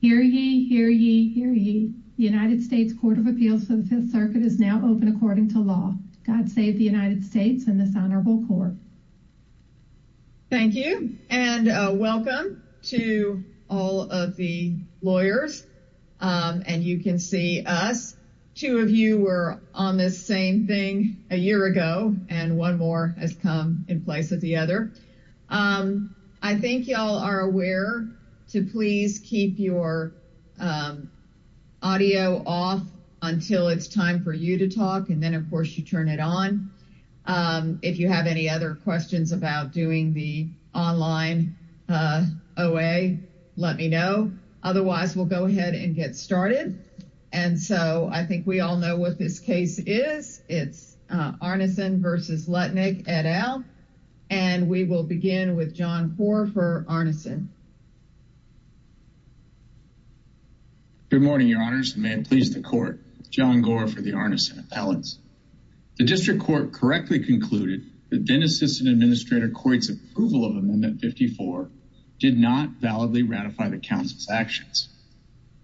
Hear ye, hear ye, hear ye. The United States Court of Appeals for the Fifth Circuit is now open according to law. God save the United States and this honorable court. Thank you and welcome to all of the lawyers and you can see us. Two of you were on this same thing a year ago and one more has come in place of the other. I think you all are aware to please keep your audio off until it's time for you to talk and then of course you turn it on. If you have any other questions about doing the online OA let me know. Otherwise we'll go ahead and get started and so I think we all know what this case is. It's Arneson v. Lutnick et al and we will begin with John Gore for Arneson. Good morning your honors and may it please the court. John Gore for the Arneson appellants. The district court correctly concluded that then assistant administrator Coit's approval of amendment 54 did not validly ratify the council's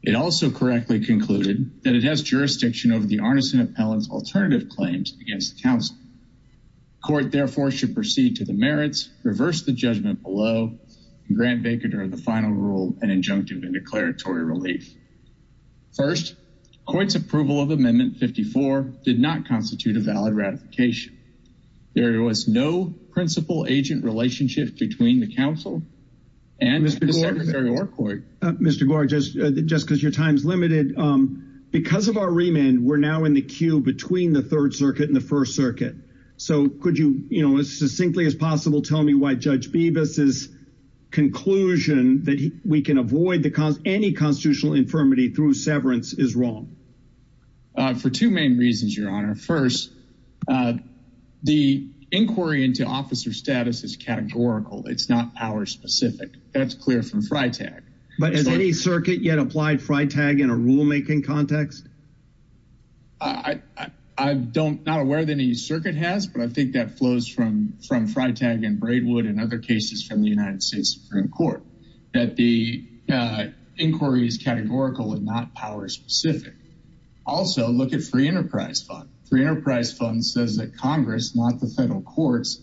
it also correctly concluded that it has jurisdiction over the Arneson appellant's alternative claims against the council. Court therefore should proceed to the merits reverse the judgment below and grant Baker during the final rule an injunctive and declaratory relief. First Coit's approval of amendment 54 did not constitute a valid ratification. There was no principal agent relationship between the council and the secretary or court. Mr. just because your time's limited because of our remand we're now in the queue between the third circuit and the first circuit so could you you know as succinctly as possible tell me why judge Bevis's conclusion that we can avoid the cause any constitutional infirmity through severance is wrong. For two main reasons your honor. First the inquiry into officer status is categorical it's not power specific that's clear from FriTag. But has any circuit yet applied FriTag in a rule making context? I don't not aware that any circuit has but I think that flows from from FriTag and Braidwood and other cases from the United States Supreme Court that the uh inquiry is categorical and not power specific. Also look at free enterprise fund. Free enterprise fund says that congress not the federal courts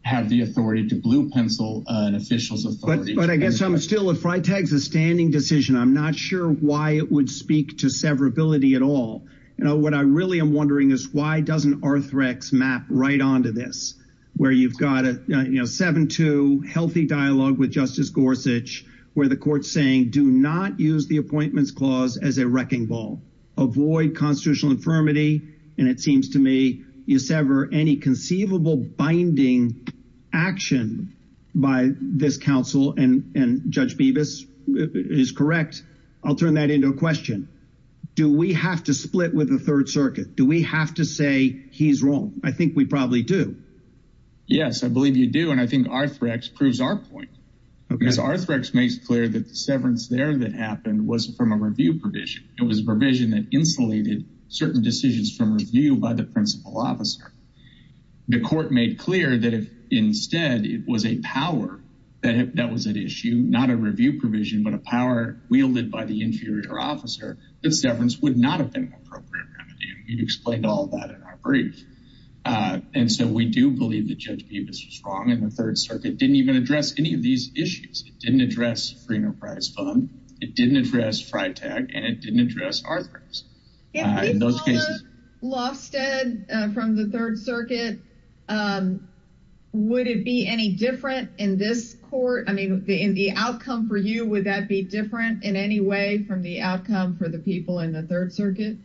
have the authority to blue pencil an official's authority. But I guess I'm still if FriTag's a standing decision I'm not sure why it would speak to severability at all. You know what I really am wondering is why doesn't Arthrex map right onto this where you've got a you know 7-2 healthy dialogue with justice Gorsuch where the court's saying do not use the appointments clause as a wrecking ball. Avoid constitutional infirmity and it seems to me you sever any conceivable binding action by this counsel and and Judge Bevis is correct. I'll turn that into a question. Do we have to split with the third circuit? Do we have to say he's wrong? I think we probably do. Yes I believe you do and I think Arthrex proves our point because Arthrex makes clear that the severance there that happened was from a review provision. It was a provision that insulated certain decisions from review by the principal officer. The court made clear that if instead it was a power that that was at issue not a review provision but a power wielded by the inferior officer that severance would not have been an appropriate remedy. We've explained all that in our brief and so we do believe that Judge Bevis was wrong and the third circuit didn't even address any of these issues. It didn't address free enterprise fund. It didn't address FriTag and it didn't address Arthrex in those cases. Lofsted from the third circuit would it be any different in this court? I mean in the outcome for you would that be different in any way from the outcome for the people in the third circuit?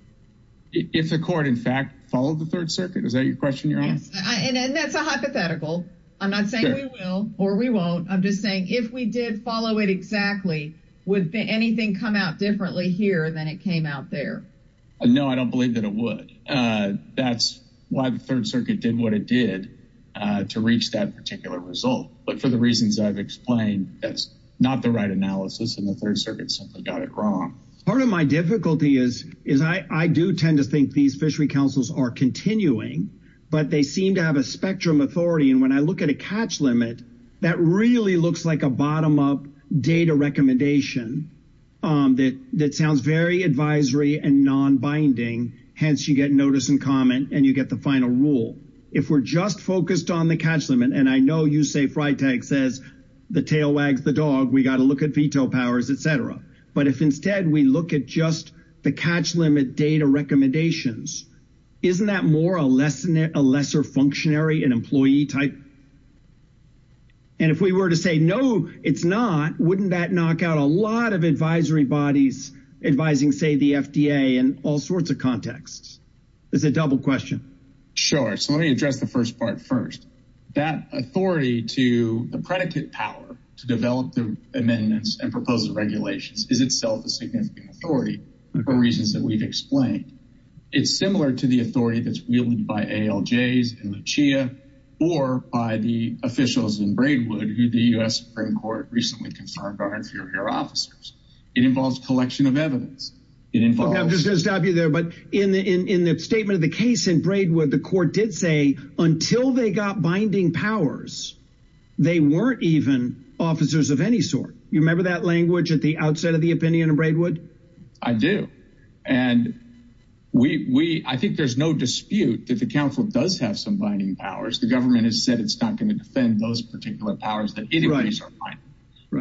If the court in fact followed the third circuit is that your question your honor? And that's a hypothetical. I'm not saying we will or we won't. I'm just saying if we did follow it would anything come out differently here than it came out there? No I don't believe that it would. That's why the third circuit did what it did to reach that particular result but for the reasons I've explained that's not the right analysis and the third circuit simply got it wrong. Part of my difficulty is is I do tend to think these fishery councils are continuing but they seem to have a spectrum authority and when I look at a catch limit that really looks like a bottom up data recommendation that sounds very advisory and non-binding hence you get notice and comment and you get the final rule. If we're just focused on the catch limit and I know you say FriTag says the tail wags the dog we got to look at veto powers etc. But if instead we look at just the catch limit data recommendations isn't that more a lesser functionary and employee type? And if we were to say no it's not wouldn't that knock out a lot of advisory bodies advising say the FDA in all sorts of contexts? It's a double question. Sure so let me address the first part first. That authority to the predicate power to develop the amendments and proposed regulations is itself a significant authority for reasons that we've explained. It's similar to the authority that's wielded by ALJs and the CHIA or by the officials in Braidwood who the U.S. Supreme Court recently confirmed are inferior officers. It involves collection of evidence. It involves. I'm just going to stop you there but in the in in the statement of the case in Braidwood the court did say until they got binding powers they weren't even officers of any sort. You remember that language at the outset of the opinion in Braidwood? I do and we I think there's no dispute that the council does have some binding powers. The government has said it's not going to defend those particular powers that it agrees are fine.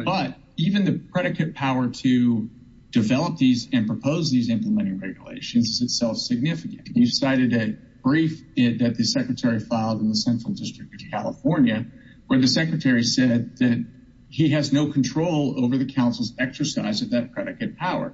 But even the predicate power to develop these and propose these implementing regulations is itself significant. You cited a brief that the secretary filed in the central district of California where the secretary said that he has no control over the council's exercise of that power.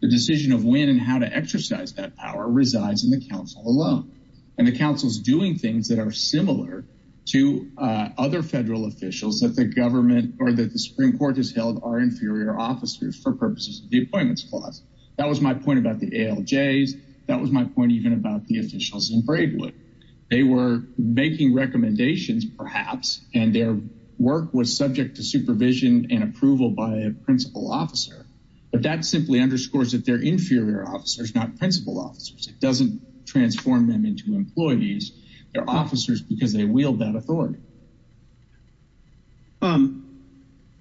The decision of when and how to exercise that power resides in the council alone and the council's doing things that are similar to other federal officials that the government or that the Supreme Court has held are inferior officers for purposes of the appointments clause. That was my point about the ALJs. That was my point even about the officials in Braidwood. They were making recommendations perhaps and their work was subject to supervision and approval by a principal officer but that simply underscores that they're inferior officers not principal officers. It doesn't transform them into employees. They're officers because they wield that authority.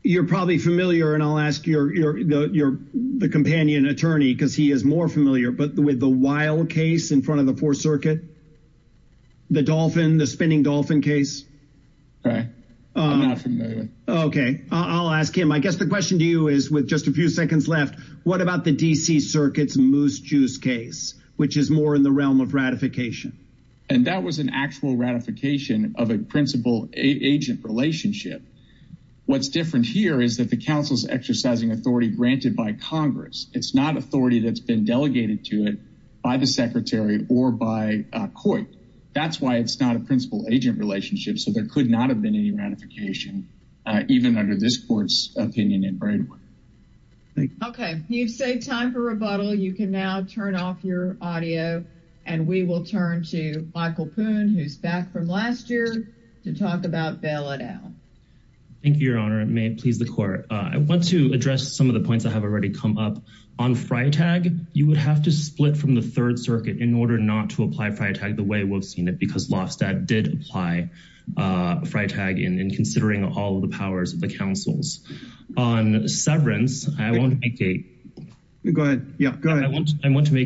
You're probably familiar and I'll ask your companion attorney because he is more familiar but with the wild case in front of the fourth circuit, the spinning dolphin case. Okay, I'll ask him. I guess the question to you is with just a few seconds left, what about the DC circuit's moose juice case which is more in the realm of ratification? And that was an actual ratification of a principal agent relationship. What's different here is that the council's exercising authority granted by congress. It's not authority that's been delegated to it by the secretary or by court. That's why it's not a principal agent relationship so there could not have been any ratification even under this court's opinion in Braidwood. Okay, you've saved time for rebuttal. You can now turn off your audio and we will turn to Michael Poon who's back from last year to talk about bail it out. Thank you, your honor. It may please the court. I want to address some of the points that have already come up. On Friatag, you would have to split from the third circuit in order not to apply Friatag the way we've seen it because Lofstad did apply Friatag in considering all of the powers of the councils. On severance, I want to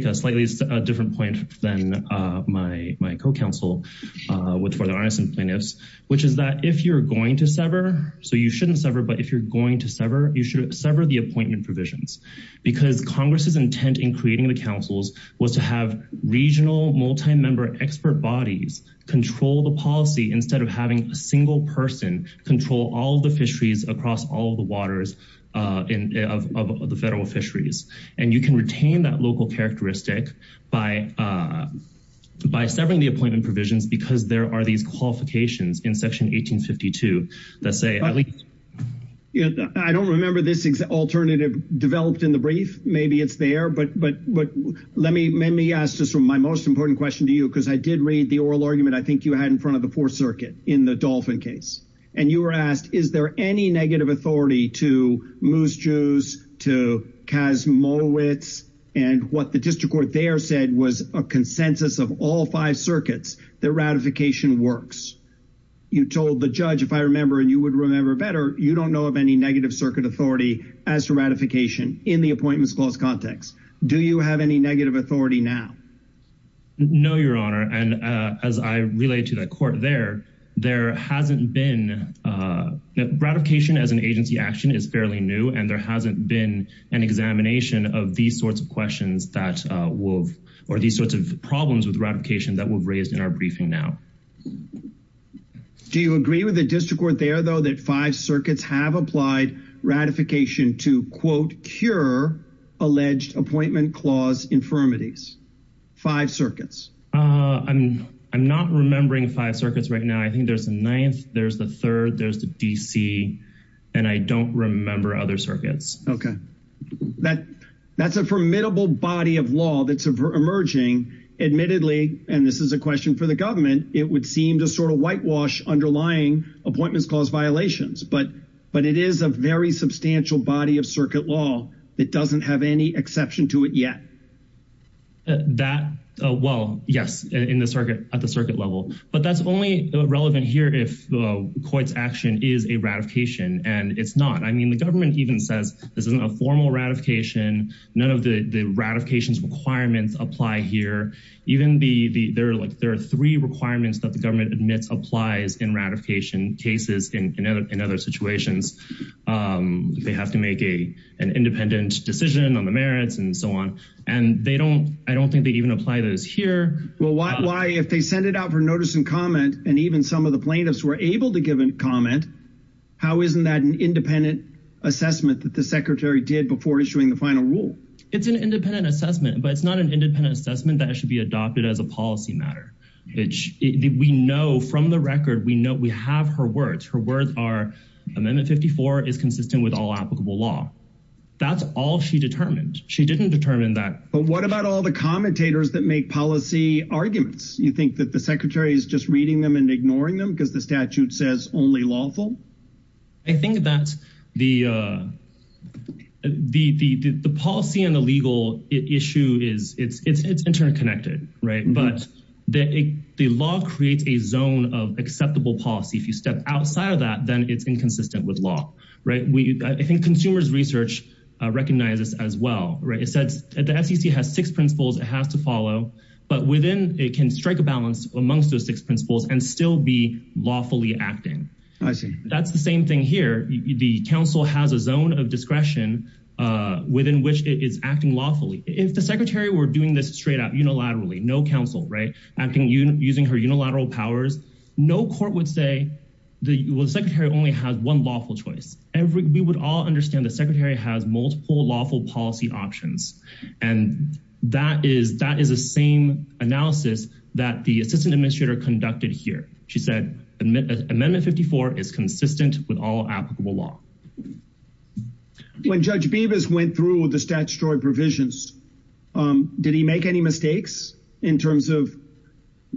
make a slightly different point than my co-counsel for the arson plaintiffs, which is that if you're going to sever, so you shouldn't sever, but if you're going to sever, you should sever the appointment provisions because congress's intent in creating the councils was to have regional multi-member expert bodies control the policy instead of having a single person control all the fisheries across all the waters of the federal fisheries. And you can retain that local characteristic by severing the appointment provisions because there are these qualifications in section 1852 that say at least... I don't remember this alternative developed in the brief. Maybe it's there, but let me ask this from my most important question to you because I did read the oral argument I think you had in front of the fourth circuit in the Dolphin case. And you were asked, is there any negative authority to Moose Jews, to Kazmowitz, and what the district court there said was a consensus of all five circuits that ratification works. You told the judge, if I remember and you would remember better, you don't know of any negative circuit authority as to ratification in the appointments clause context. Do you have any negative authority now? No, your honor. And as I relayed to the court there, there hasn't been... Ratification as an agency action is fairly new and there hasn't been an examination of these sorts of questions that will... or these sorts of problems with ratification that we've raised in our briefing now. Do you agree with the district court there though that five circuits have applied ratification to quote cure alleged appointment clause infirmities? Five circuits? I'm not remembering five circuits right now. I think there's a ninth, there's the third, there's the DC, and I don't remember other circuits. Okay. That's a formidable body of law that's emerging. Admittedly, and this is a question for the government, it would seem to sort of whitewash underlying appointments clause violations, but it is a very substantial body of circuit law that doesn't have any exception to it yet. That, well, yes, at the circuit level, but that's only relevant here if the court's action is a ratification and it's not. I mean, the government even says this isn't a formal ratification. None of the ratifications requirements apply here. There are three requirements that the government admits applies in ratification cases in other situations. They have to make an independent decision on the merits and so on, and I don't think they even apply those here. Well, why if they send it out for notice and comment and even some of the plaintiffs were able to give a comment, how isn't that an independent assessment that the secretary did before issuing the final rule? It's an independent assessment, but it's not an independent assessment that should be adopted as a policy matter, which we know from the record. We know we have her words. Her words are Amendment 54 is consistent with all applicable law. That's all she determined. She didn't determine that. But what about all the commentators that make policy arguments? You think that the secretary is just reading them and ignoring them because the statute says only lawful? I think that the policy and the legal issue is it's interconnected, right? But the law creates a zone of acceptable policy. If you step outside of that, then it's inconsistent with law, right? I think consumers research recognizes as well, right? It says the SEC has six principles it has to follow, but within it can strike a balance amongst those six principles and still be acting. That's the same thing here. The council has a zone of discretion within which it is acting lawfully. If the secretary were doing this straight up unilaterally, no council, right, acting using her unilateral powers, no court would say the secretary only has one lawful choice. We would all understand the secretary has multiple lawful policy options. And that is the same analysis that the assistant administrator conducted here. She said Amendment 54 is consistent with all applicable law. When Judge Bibas went through the statutory provisions, did he make any mistakes in terms of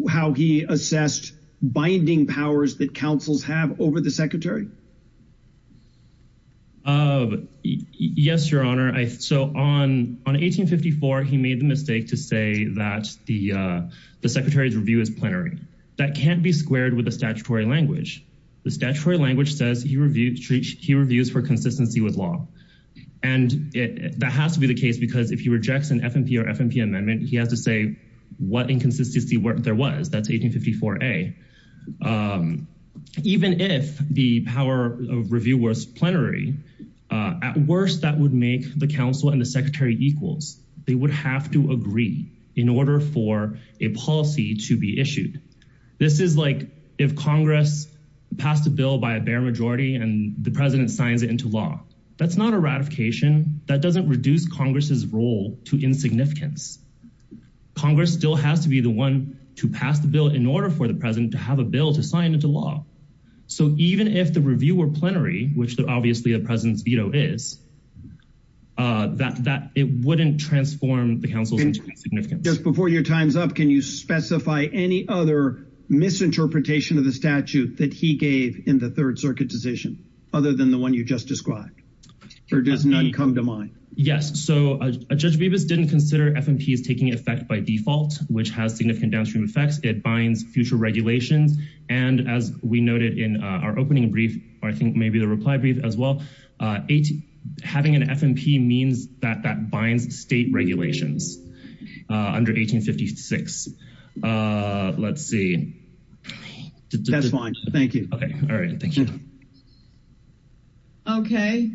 how he assessed binding powers that councils have over the secretary? Yes, your honor. So on 1854, he made the mistake to say that the secretary's review is plenary. That can't be squared with the statutory language. The statutory language says he reviews for consistency with law. And that has to be the case because if he rejects an FMP or FMP amendment, he has to say what inconsistency there was. That's 1854A. Even if the power of review was plenary, at worst that would make the council and the secretary equals, they would have to agree in order for a policy to be issued. This is like if Congress passed a bill by a bare majority and the president signs it into law. That's not a ratification. That doesn't reduce Congress's role to insignificance. Congress still has to be the one to pass the bill in order for the president to have a bill to sign into law. So even if the review were plenary, which obviously the president's veto is, that it wouldn't transform the council's insignificance. Just before your time's up, can you specify any other misinterpretation of the statute that he gave in the third circuit decision other than the one you just described? Or does none come to mind? Yes, so Judge Bebas didn't consider FMPs taking effect by default, which has significant downstream effects. It binds future regulations. And as we noted in our opening brief, or I think maybe the reply brief as well, it having an FMP means that that binds state regulations under 1856. Let's see. That's fine. Thank you. Okay. All right. Thank you. Okay.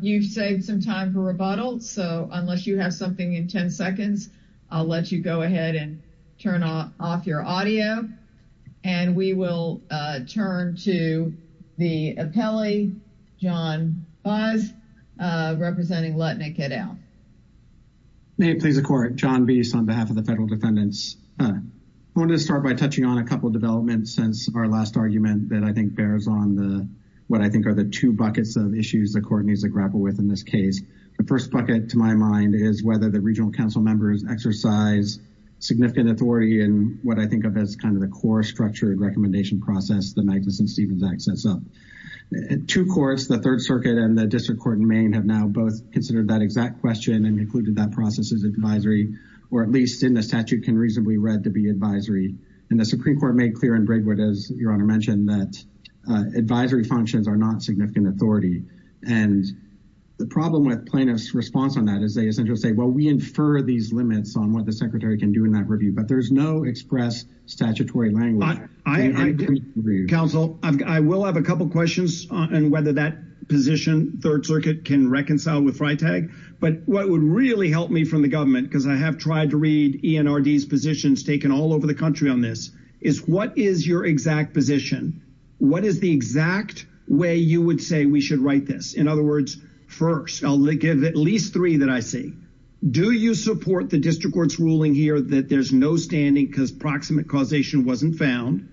You've saved some time for rebuttal. So unless you have something in 10 seconds, I'll let you go ahead and turn off your audio. And we will turn to the appellee, John Baez, representing Lutnick et al. May it please the court. John Beas on behalf of the federal defendants. I wanted to start by touching on a couple of developments since our last argument that I think bears on what I think are the two buckets of issues the court needs to grapple with in this The first bucket, to my mind, is whether the regional council members exercise significant authority in what I think of as kind of the core structure and recommendation process the Magnuson-Stevens Act sets up. Two courts, the Third Circuit and the District Court in Maine, have now both considered that exact question and included that process as advisory, or at least in the statute can reasonably read to be advisory. And the Supreme Court made clear in Brigwood, as Your Honor mentioned, that advisory functions are not significant authority. And the problem with plaintiffs' response on that is they essentially say, well, we infer these limits on what the secretary can do in that review. But there's no express statutory language. Counsel, I will have a couple questions on whether that position, Third Circuit, can reconcile with FriTag. But what would really help me from the government, because I have tried to read ENRD's positions taken all over the country on this, is what is exact position? What is the exact way you would say we should write this? In other words, first, I'll give at least three that I see. Do you support the district court's ruling here that there's no standing because proximate causation wasn't found?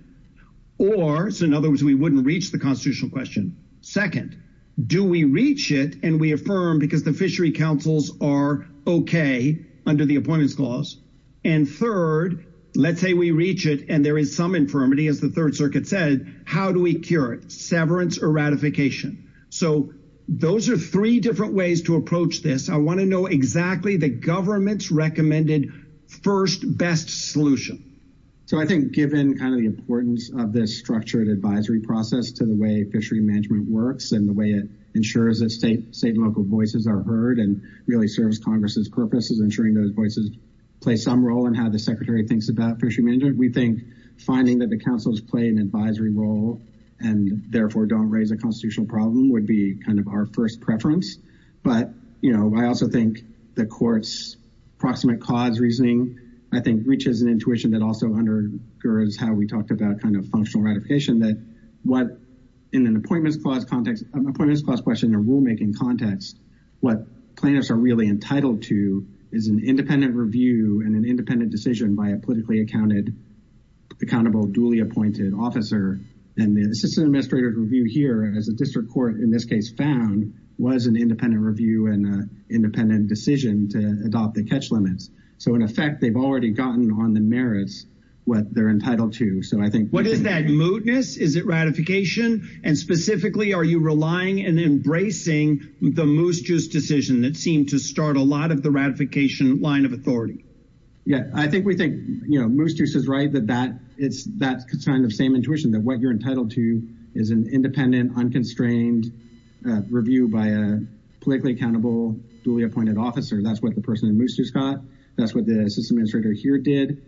Or, so in other words, we wouldn't reach the constitutional question. Second, do we reach it and we affirm because the fishery councils are okay under the Appointments Clause? And third, let's say we reach it and there is some as the Third Circuit said, how do we cure it? Severance or ratification. So those are three different ways to approach this. I want to know exactly the government's recommended first best solution. So I think given kind of the importance of this structured advisory process to the way fishery management works and the way it ensures that state and local voices are heard and really serves Congress's purpose is ensuring those voices play some role in how the secretary thinks about fishery management. We think finding that the councils play an advisory role and therefore don't raise a constitutional problem would be kind of our first preference. But, you know, I also think the court's proximate cause reasoning, I think, reaches an intuition that also undergirds how we talked about kind of functional ratification that what in an Appointments Clause context, Appointments Clause question and rulemaking context, what plaintiffs are really entitled to is an independent review and an independent decision by a politically accounted, accountable, duly appointed officer. And this is an administrative review here as the district court in this case found was an independent review and independent decision to adopt the catch limits. So in effect, they've already gotten on the merits what they're entitled to. So I think what is that mootness? Is it ratification? And specifically, are you relying and embracing the Moose Juice decision that seemed to start a lot of the ratification line of authority? Yeah, I think we think, you know, Moose Juice is right that that it's that kind of same intuition that what you're entitled to is an independent, unconstrained review by a politically accountable, duly appointed officer. That's what the person in Moose Juice got. That's what the assistant administrator here did.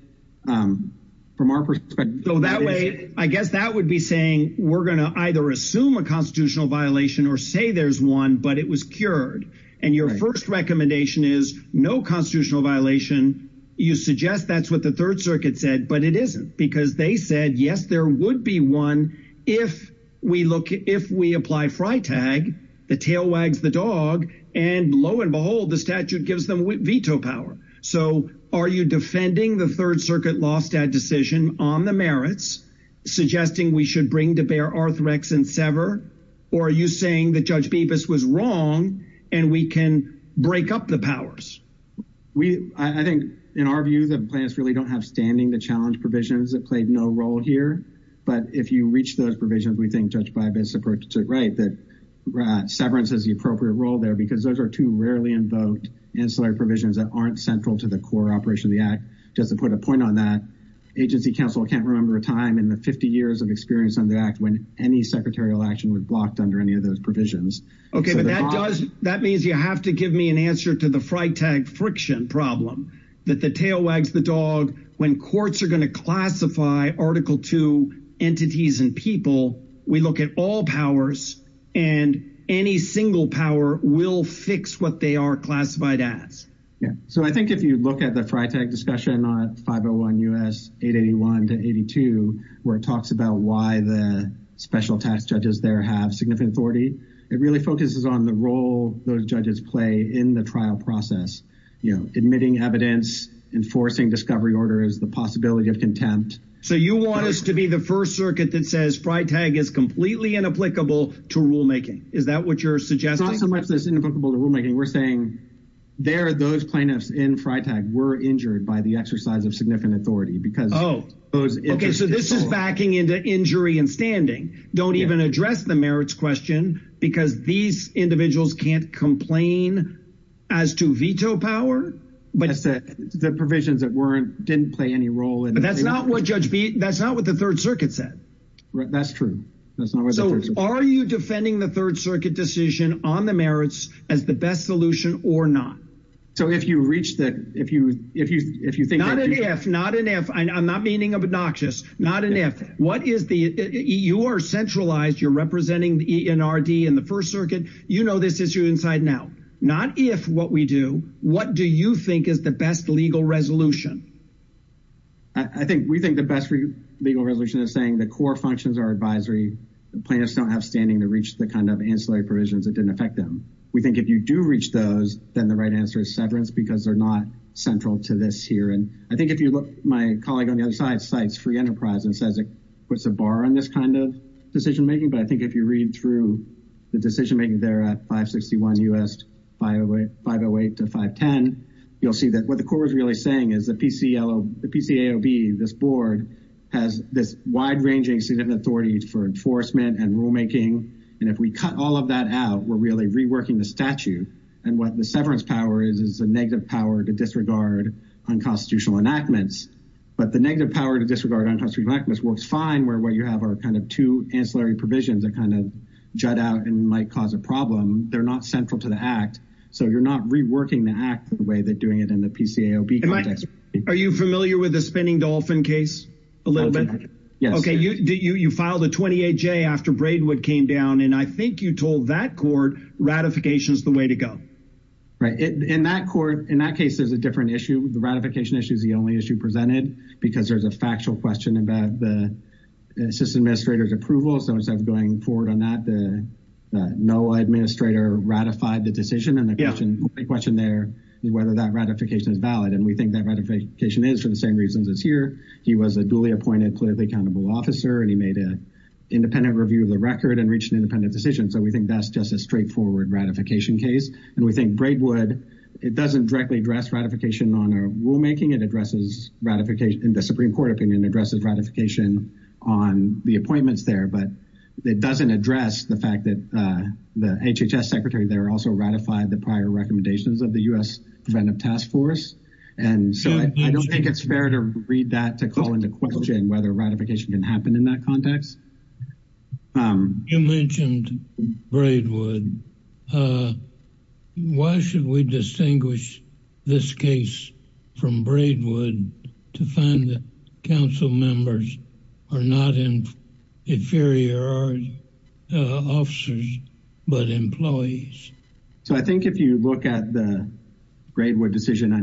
From our perspective, though, that way, I guess that would be saying we're going to either assume a constitutional violation or say there's one, but it was cured. And your first recommendation is no constitutional violation. You suggest that's what the Third Circuit said, but it isn't because they said, yes, there would be one if we look if we apply FriTag, the tail wags the dog. And lo and behold, the statute gives them veto power. So are you defending the Third Circuit law stat decision on the merits, suggesting we should bring to bear Arthrex and sever? Or are you saying that Judge Bibas was wrong and we can break up the powers? We I think in our view, the plans really don't have standing to challenge provisions that played no role here. But if you reach those provisions, we think Judge Bibas is right that severance is the appropriate role there because those are two rarely invoked ancillary provisions that aren't central to the core operation of the act. Just to put a point on that, agency counsel can't remember a time in the 50 years of experience on the act when any secretarial action was blocked under any of those provisions. OK, but that does that means you have to give me an answer to the FriTag friction problem that the tail wags the dog. When courts are going to classify Article two entities and people, we look at all powers and any single power will fix what they are classified as. So I think if you look at the FriTag discussion on 501 U.S. 881 to 82, where it talks about why the special tax judges there have significant authority, it really focuses on the role those judges play in the trial process, admitting evidence, enforcing discovery orders, the possibility of contempt. So you want us to be the first circuit that says FriTag is completely inapplicable to rulemaking. Is that what you're suggesting? It's not so much that it's inapplicable to rulemaking. We're saying there, those plaintiffs in FriTag were injured by the exercise of significant authority because. Oh, OK, so this is backing into injury and standing don't even address the merits question because these individuals can't complain as to veto power. But the provisions that weren't didn't play any role. And that's not what judge that's not what the Third Circuit said. That's true. That's not. So are you defending the Third Circuit decision on the merits as the best solution or not? So if you reach that, if you if you if you think not an F, not an F, I'm not meaning obnoxious, not an F. What is the you are centralized? You're representing the NRD in the first circuit. You know this issue inside now, not if what we do. What do you think is the best legal resolution? I think we think the best legal resolution is saying the core functions are advisory. The plaintiffs don't have standing to reach the kind of ancillary provisions that didn't affect them. We think if you do reach those, then the right answer is severance because they're not central to this here. And I think if you look, my colleague on the other side, cites free enterprise and says it puts a bar on this kind of decision making. But I think if you read through the decision making there at 561 US 508 to 510, you'll see that what the court is really saying is the PCLO, the PCAOB, this board has this wide ranging, significant authority for enforcement and rulemaking. And if we cut all of that out, we're really reworking the statute. And what the severance power is, is a negative power to disregard unconstitutional enactments. But the negative power to disregard unconstitutional enactments works fine, where what you have are kind of two ancillary provisions that kind of jut out and might cause a problem. They're not central to the act. So you're not reworking the act the way that doing it in the PCAOB context. Are you familiar with the spinning dolphin case? A little bit. Yes. Okay. You filed a 28-J after Braidwood came down, and I think you told that court ratification is the way to go. Right. In that court, in that case, there's a different issue. The ratification issue is the only issue presented, because there's a factual question about the system administrator's approval. So instead of going forward on that, the NOAA administrator ratified the decision, and the question there is whether that ratification is valid. And we think that ratification is for the same reasons as here. He was a duly appointed politically accountable officer, and he made an independent review of the record and reached an independent decision. So we think that's just a straightforward ratification case. And we think Braidwood, it doesn't directly address ratification on our rulemaking. It addresses ratification, in the Supreme Court opinion, addresses ratification on the appointments there. It doesn't address the fact that the HHS secretary there also ratified the prior recommendations of the U.S. Preventive Task Force. And so I don't think it's fair to read that to call into question whether ratification can happen in that context. You mentioned Braidwood. Why should we distinguish this case from Braidwood to find that council members are not inferior officers but employees? So I think if you look at the Braidwood decision,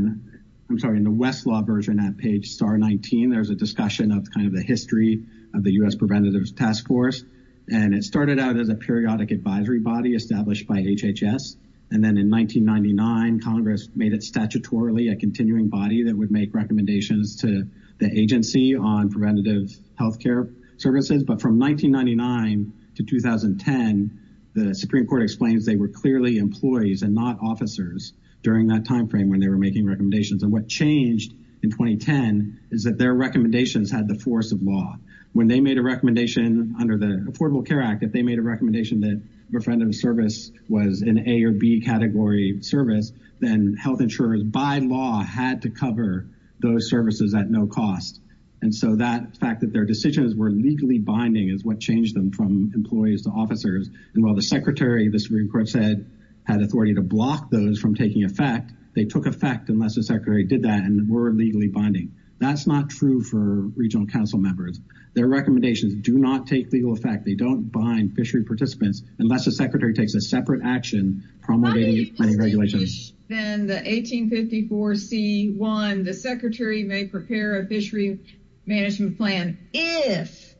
I'm sorry, in the Westlaw version at page star 19, there's a discussion of kind of the history of the U.S. Preventative Task Force. And it started out as a periodic advisory body established by HHS. And then in 1999, Congress made it statutorily a continuing body that would make recommendations to the agency on preventative health care services. But from 1999 to 2010, the Supreme Court explains they were clearly employees and not officers during that timeframe when they were making recommendations. And what changed in 2010 is that their recommendations had the force of law. When they made a recommendation under the Affordable Care Act, they made a recommendation that preventative service was an A or B category service, then health insurers by law had to cover those services at no cost. And so that fact that their decisions were legally binding is what changed them from employees to officers. And while the Secretary, the Supreme Court said, had authority to block those from taking effect, they took effect unless the Secretary did that and were legally binding. That's not true for regional council members. Their recommendations do not take legal effect. They don't bind fishery participants unless the Secretary takes a separate action promulgating. How do you distinguish then the 1854C1, the Secretary may prepare a fishery management plan if,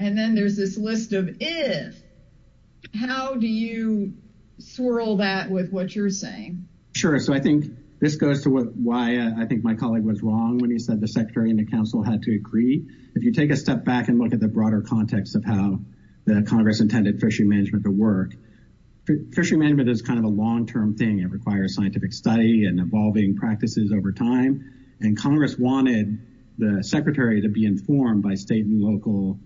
and then there's this list of if, how do you swirl that with what you're saying? Sure. So I think this goes to why I think my colleague was wrong when he said the step back and look at the broader context of how the Congress intended fishery management to work. Fishery management is kind of a long-term thing. It requires scientific study and evolving practices over time. And Congress wanted the Secretary to be informed by state and local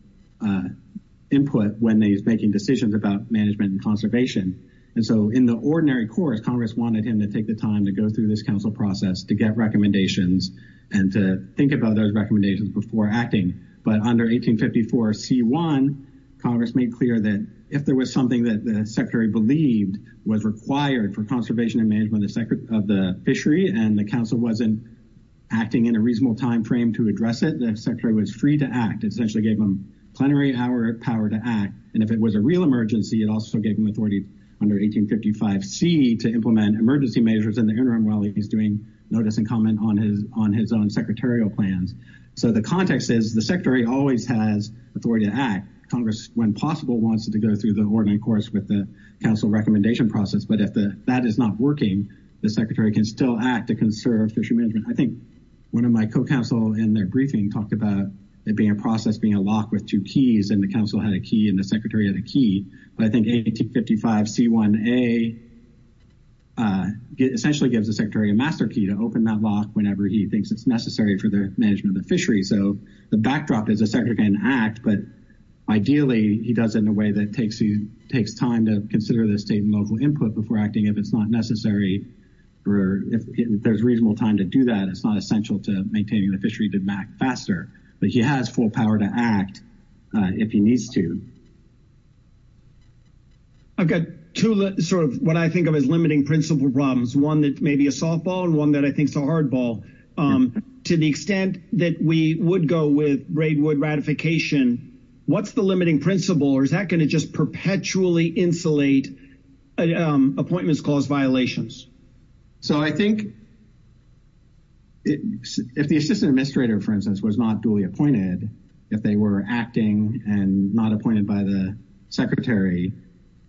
input when he's making decisions about management and conservation. And so in the ordinary course, Congress wanted him to take the time to go through this council process to get recommendations and to think about those recommendations before acting. But under 1854C1, Congress made clear that if there was something that the Secretary believed was required for conservation and management of the fishery and the council wasn't acting in a reasonable timeframe to address it, the Secretary was free to act. It essentially gave him plenary power to act. And if it was a real emergency, it also gave him authority under 1855C to implement emergency measures in the interim while he's doing notice and comment on his own secretarial plans. So the context is the Secretary always has authority to act. Congress, when possible, wants it to go through the ordinary course with the council recommendation process. But if that is not working, the Secretary can still act to conserve fishery management. I think one of my co-counsel in their briefing talked about it being a process, being a lock with two keys, and the council had a key and the Secretary had a key. But I think 1855C1A essentially gives the Secretary a master key to open that lock whenever he thinks it's necessary for the management of the fishery. So the backdrop is the Secretary can act, but ideally he does it in a way that takes time to consider the state and local input before acting if it's not necessary or if there's reasonable time to do that. It's not essential to maintaining the fishery to act faster, but he has full power to act if he needs to. I've got two sort of what I think of as limiting principle problems, one that may be a softball and one that I think is a hardball. To the extent that we would go with Braidwood ratification, what's the limiting principle or is that going to just perpetually insulate appointments clause violations? So I think if the Assistant Administrator, for instance, was not duly appointed, if they were acting and not appointed by the Secretary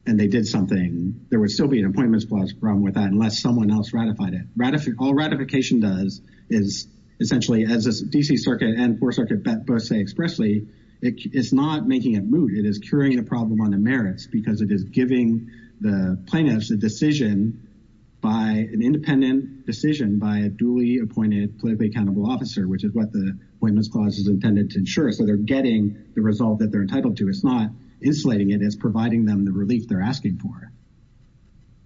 and they did something, there would still be an appointments clause problem with that unless someone else ratified it. All ratification does is essentially, as the D.C. Circuit and 4th Circuit both say expressly, it is not making it move. It is curing a problem on the merits because it is giving the plaintiffs a decision by an independent decision by a duly appointed politically accountable officer, which is what the appointments clause is intended to ensure. So they're getting the result that they're entitled to. It's not insulating it, it's providing them the relief they're asking for.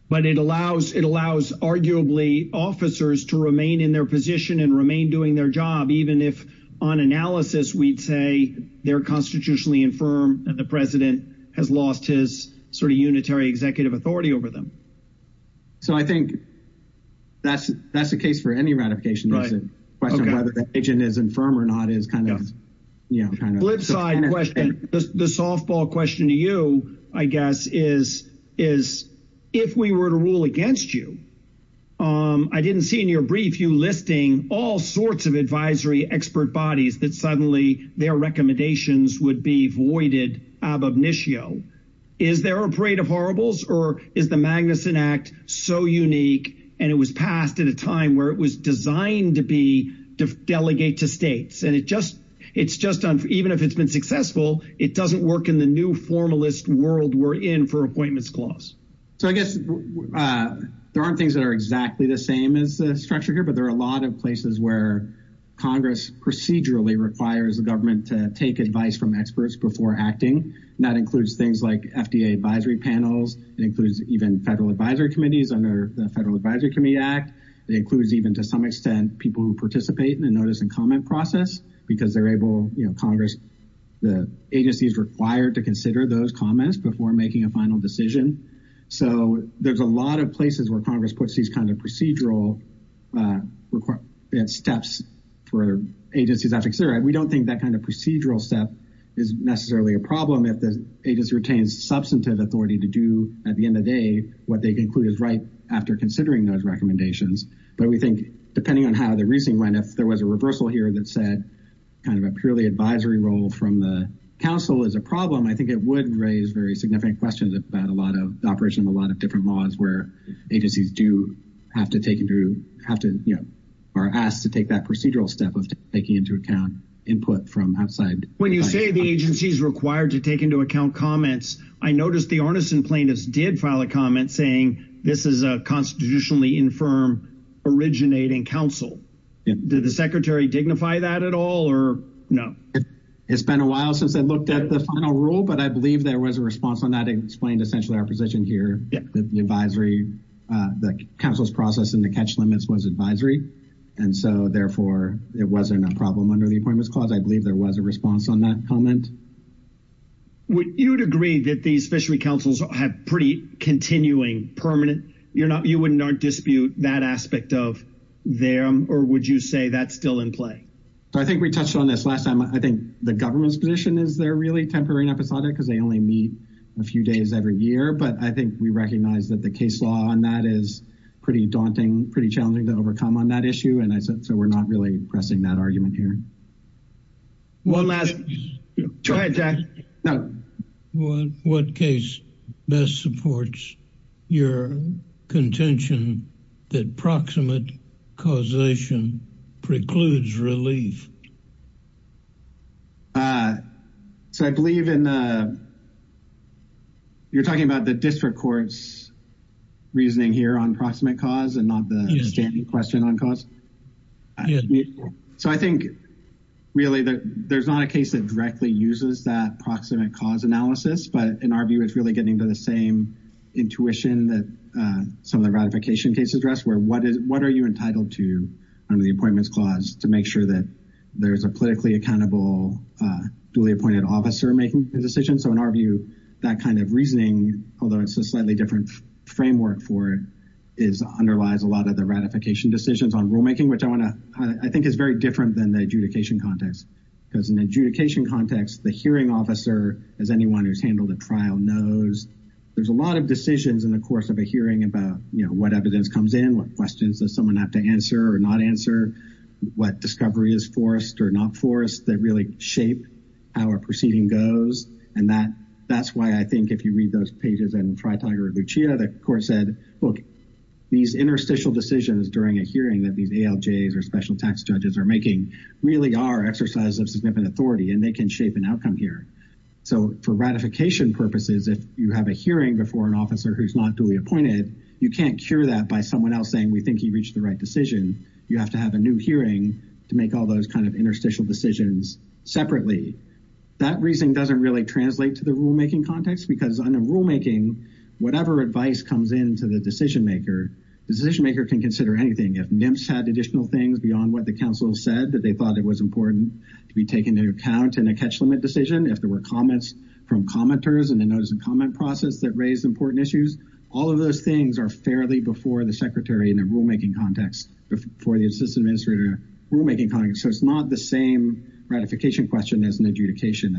But it allows, arguably, officers to remain in their position and remain doing their job, even if on analysis we'd say they're constitutionally infirm and the President has lost his sort of unitary executive authority over them. So I think that's the case for any ratification. The question of whether the agent is infirm or not is kind of, you know, is if we were to rule against you, I didn't see in your brief you listing all sorts of advisory expert bodies that suddenly their recommendations would be voided ab initio. Is there a parade of horribles or is the Magnuson Act so unique and it was passed at a time where it was designed to be delegate to states? And it's just, even if it's been successful, it doesn't work in the new formalist world we're in for appointments clause. So I guess there aren't things that are exactly the same as the structure here, but there are a lot of places where Congress procedurally requires the government to take advice from experts before acting. That includes things like FDA advisory panels. It includes even federal advisory committees under the Federal Advisory Committee Act. It includes even, to some extent, people who participate in the notice and comment process because they're able, you know, Congress, the agency is required to consider those comments before making a final decision. So there's a lot of places where Congress puts these kinds of procedural steps for agencies. We don't think that kind of procedural step is necessarily a problem if the agency retains substantive authority to do, at the end of the day, what they conclude is right after considering those recommendations. But we think, depending on how the reasoning went, if there was a reversal here that said kind of a purely advisory role from the council is a problem, I think it would raise very significant questions about a lot of the operation of a lot of different laws where agencies do have to take into, have to, you know, are asked to take that procedural step of taking into account input from outside. When you say the agency is required to take into account comments, I noticed the Arneson plaintiffs did file a comment saying this is a constitutionally infirm originating council. Did the secretary dignify that at all or no? It's been a while since I looked at the final rule but I believe there was a response on that. It explained essentially our position here that the advisory, the council's process and the catch limits was advisory and so therefore it wasn't a problem under the appointments clause. I believe there was a response on that comment. Would you agree that these fishery councils have pretty continuing permanent, you wouldn't dispute that aspect of them or would you say that's still in play? I think we touched on this last time. I think the government's position is they're really temporary and episodic because they only meet a few days every year but I think we recognize that the case law on that is pretty daunting, pretty challenging to overcome on that issue and I said so we're not really pressing that argument here. One last, try it Jack. What case best supports your contention that proximate causation precludes relief? So I believe in the, you're talking about the district court's reasoning here on proximate cause and not the standing question on cause. So I think really that there's not a case that directly uses that proximate cause analysis but in our view it's really getting to the same intuition that some of the ratification cases address where what are you entitled to under the appointments clause to make sure that there's a politically accountable duly appointed officer making a decision. So in our view that kind of reasoning, although it's a slightly different framework for it, underlies a lot of the ratification decisions on rulemaking which I want to, I think is very different than the adjudication context because in adjudication context the hearing officer as anyone who's handled a trial knows there's a lot of decisions in the course of a hearing about you know what evidence comes in, what questions does someone have to answer or not answer, what discovery is forced or not forced that really shape how a proceeding goes and that that's why I think if you read those pages and Freitag or Lucia the court said look these interstitial decisions during a hearing that these ALJs or special tax judges are making really are exercises of significant authority and they can shape an outcome here. So for ratification purposes if you have a hearing before an officer who's not duly appointed you can't cure that by someone else saying we think he reached the right decision. You have to have a new hearing to make all those kind of interstitial decisions separately. That reasoning doesn't really translate to the rulemaking context because under rulemaking whatever advice comes in to the decision maker, the decision maker can consider anything. If NIMPS had additional things beyond what the council said that they thought it was important to be taken into account in a catch limit decision, if there were comments from commenters and the notice of comment process that raised important issues, all of those things are fairly before the secretary in a rulemaking context before the assistant administrator rulemaking context. So it's not the same ratification question as an adjudication.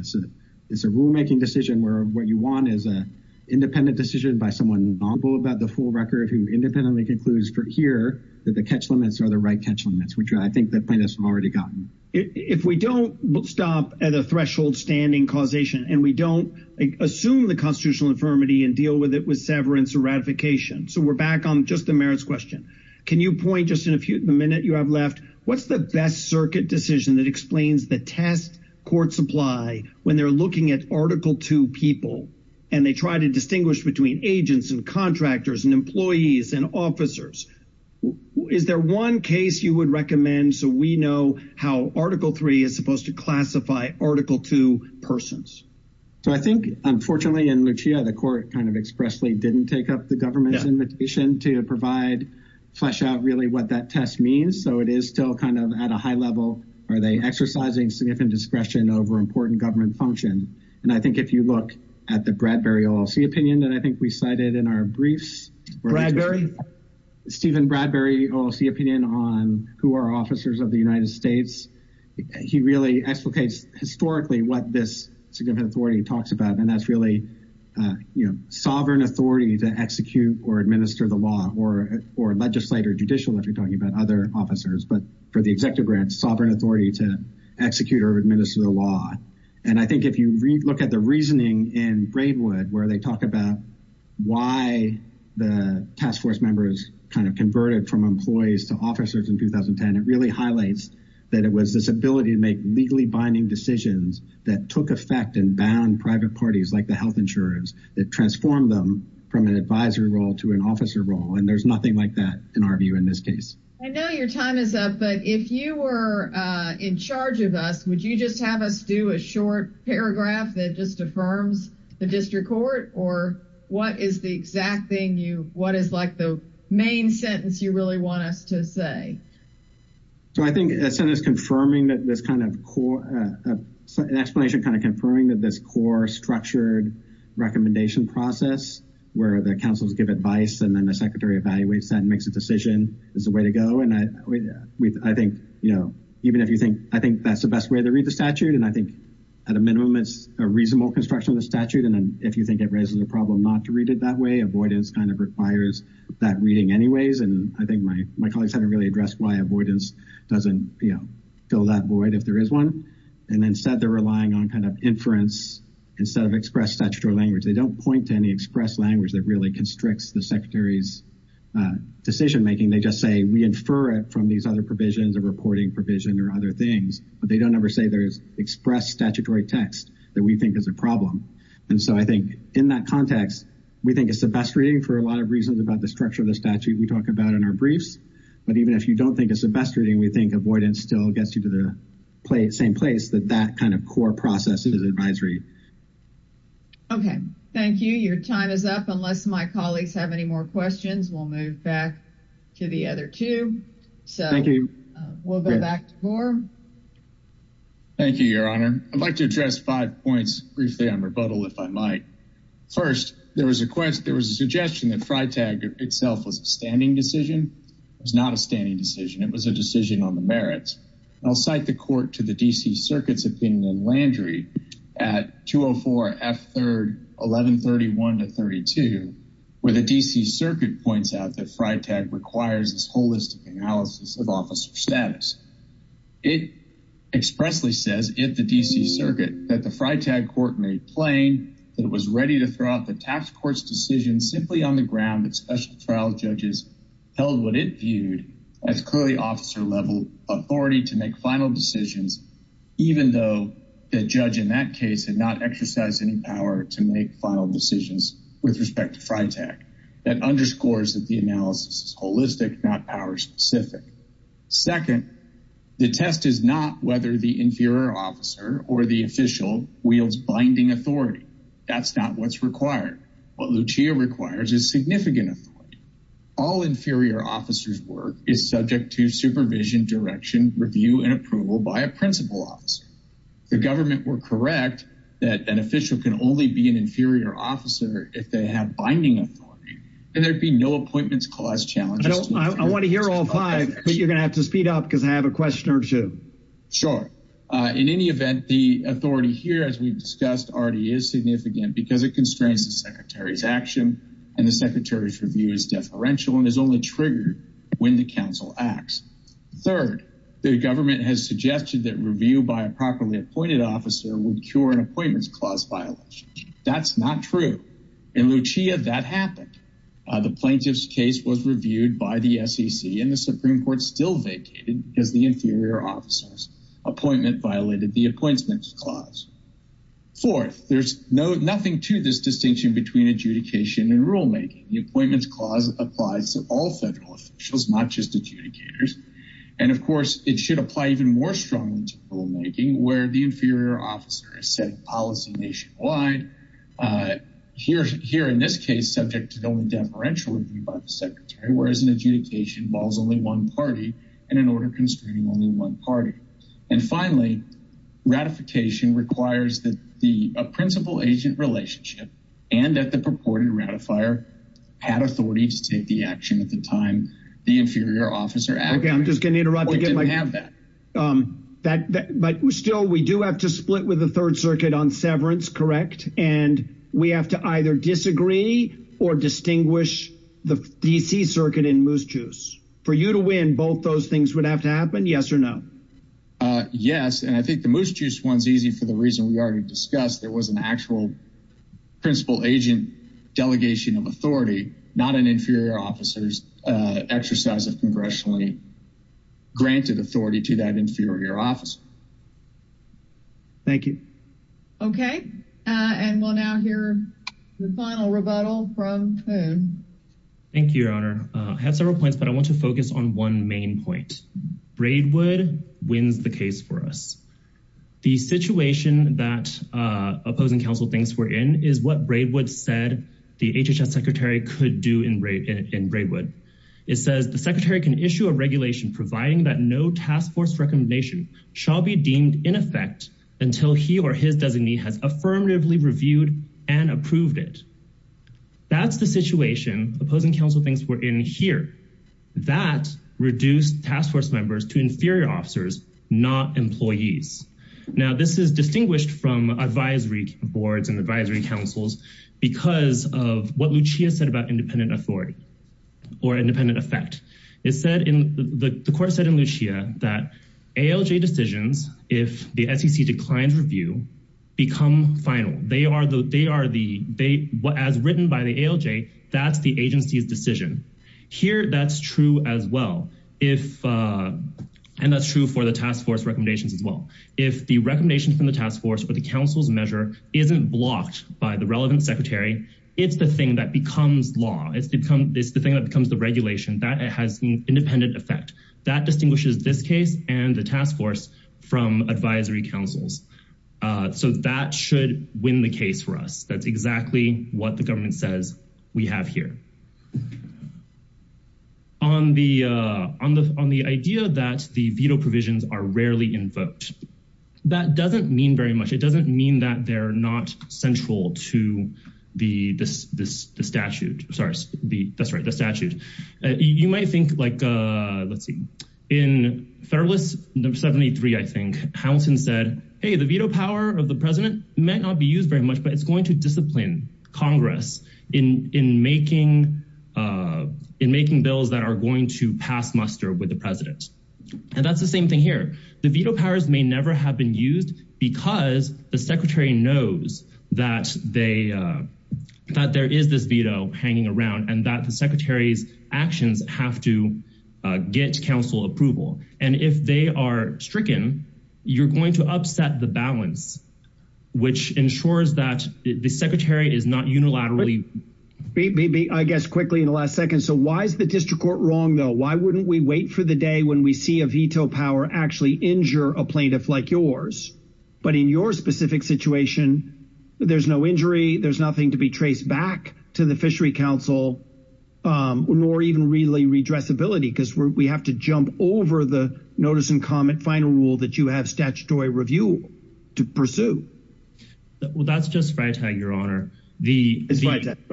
It's a rulemaking decision where what you want is a independent decision by someone knowledgeable about the full catch limits or the right catch limits which I think the plaintiffs have already gotten. If we don't stop at a threshold standing causation and we don't assume the constitutional infirmity and deal with it with severance or ratification, so we're back on just the merits question, can you point just in a minute you have left what's the best circuit decision that explains the test court supply when they're looking at article two people and they try to distinguish between agents and contractors and employees and officers? Is there one case you would recommend so we know how article three is supposed to classify article two persons? So I think unfortunately in Lucia, the court kind of expressly didn't take up the government's invitation to provide flesh out really what that test means. So it is still kind of at a high level are they exercising significant discretion over important government function. And I think if you look at the Bradbury OLC opinion that I think we cited in our briefs. Stephen Bradbury OLC opinion on who are officers of the United States. He really explicates historically what this significant authority talks about and that's really you know sovereign authority to execute or administer the law or legislator judicial if you're talking about other officers but for the executive branch sovereign authority to execute or administer the law. And I think if you look at the reasoning in Braidwood where they talk about why the task force members kind of converted from employees to officers in 2010 it really highlights that it was this ability to make legally binding decisions that took effect and bound private parties like the health insurers that transformed them from an advisory role to an officer role and there's nothing like that in our view in this case. I know your time is up but if you were in charge of us would you just have us do a short paragraph that just affirms the district court or what is the exact thing you what is like the main sentence you really want us to say? So I think as soon as confirming that this kind of core explanation kind of confirming that this core structured recommendation process where the councils give advice and then the secretary evaluates that and makes a decision is the way to go and I think you know even if you think I think that's the best way to read the statute and I think at a minimum it's a reasonable construction of the statute and then if you think it raises a problem not to read it that way avoidance kind of requires that reading anyways and I think my colleagues haven't really addressed why avoidance doesn't you know fill that void if there is one and instead they're relying on kind of inference instead of express statutory language they don't point to any express language that really constricts the secretary's decision making they just say we infer it from these other provisions of reporting provision or other things but they don't ever say there's express statutory text that we think is a problem and so I think in that context we think it's the best reading for a lot of reasons about the structure of the statute we talk about in our briefs but even if you don't think it's the best reading we think avoidance still gets you to the same place that that kind of advisory okay thank you your time is up unless my colleagues have any more questions we'll move back to the other two so thank you we'll go back to gore thank you your honor i'd like to address five points briefly on rebuttal if i might first there was a quest there was a suggestion that fry tag itself was a standing decision it was not a standing decision it was a decision on the merits i'll cite the court to the dc circuit's opinion and landry at 204 f third 1131 to 32 where the dc circuit points out that fry tag requires this holistic analysis of officer status it expressly says if the dc circuit that the fry tag court made plain that it was ready to throw out the tax court's decision simply on the ground that special trial judges held what it that's clearly officer level authority to make final decisions even though the judge in that case had not exercised any power to make final decisions with respect to fry tag that underscores that the analysis is holistic not power specific second the test is not whether the inferior officer or the official wields binding authority that's not what's required what lucia requires is significant authority all inferior officers work is subject to supervision direction review and approval by a principal officer the government were correct that an official can only be an inferior officer if they have binding authority and there'd be no appointments clause challenges i want to hear all five but you're going to have to speed up because i have a question or two sure uh in any event the authority here as we've discussed already is significant because it the secretary's action and the secretary's review is deferential and is only triggered when the council acts third the government has suggested that review by a properly appointed officer would cure an appointments clause violation that's not true in lucia that happened the plaintiff's case was reviewed by the sec and the supreme court still vacated because the inferior officers appointment violated the appointments clause fourth there's no nothing to this distinction between adjudication and rulemaking the appointments clause applies to all federal officials not just adjudicators and of course it should apply even more strongly to rulemaking where the inferior officer is setting policy nationwide uh here here in this case subject to the only deferential review by the secretary whereas an adjudication involves only one party and in order constraining only one party and finally ratification requires that a principal agent relationship and that the purported ratifier had authority to take the action at the time the inferior officer okay i'm just going to interrupt you didn't have that um that but still we do have to split with the third circuit on severance correct and we have to either disagree or distinguish the dc circuit in moose juice for you to win both those things would have to happen yes or no uh yes and i think the moose juice one's easy for the reason we already discussed there was an actual principal agent delegation of authority not an inferior officers uh exercise of congressionally granted authority to that inferior officer thank you okay uh and we'll now hear the final rebuttal from poon thank you your honor i had several points but i want to focus on one main point braidwood wins the case for us the situation that uh opposing council thinks we're in is what braidwood said the hhs secretary could do in rate in braidwood it says the secretary can issue a regulation providing that no task force recommendation shall be deemed in effect until he or his designee has affirmatively reviewed and approved it that's the situation opposing council things were in here that reduce task force members to inferior officers not employees now this is distinguished from advisory boards and advisory councils because of what lucia said about independent authority or independent effect it said in the court said in lucia that alj decisions if the sec declines review become final they are the they are the they what as written by the alj that's the agency's decision here that's true as well if uh and that's true for the task force recommendations as well if the recommendation from the task force for the council's measure isn't blocked by the relevant secretary it's the thing that becomes law it's become this the thing that becomes the regulation that it has an independent effect that distinguishes this case and the task force from advisory councils uh so that should win the case for us that's exactly what the government says we have here on the uh on the on the idea that the veto provisions are rarely invoked that doesn't mean very much it doesn't mean that they're not central to the this this the statute sorry the that's right the statute uh you might think like uh let's see in federalist number 73 i think hamilton said hey the veto power of the president might not be used very much but it's going to discipline congress in in making uh in making bills that are going to pass muster with the president and that's the same thing here the veto powers may never have been used because the secretary knows that they uh that there is this veto hanging around and that the secretary's actions have to uh get council approval and if they are stricken you're going to upset the balance which ensures that the secretary is not unilaterally maybe i guess quickly in the last second so why is the district court wrong though why wouldn't we wait for the day when we see a veto power actually injure a plaintiff like yours but in your specific situation there's no injury there's nothing to be traced back to the fishery um or even really redress ability because we have to jump over the notice and comment final rule that you have statutory review to pursue well that's just right tag your honor the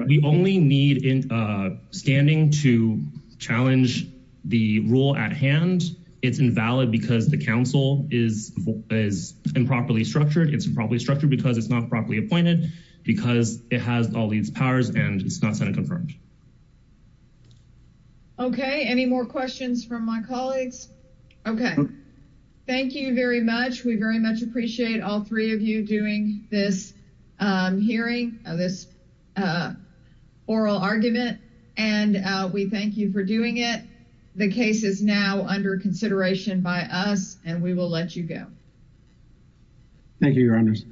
we only need in uh standing to challenge the rule at hand it's invalid because the council is is improperly structured it's probably structured because it's not properly appointed because it has all these powers and it's not senate confirmed okay any more questions from my colleagues okay thank you very much we very much appreciate all three of you doing this um hearing of this uh oral argument and uh we thank you for doing it the case is now under consideration by us and we will let you go thank you your honors you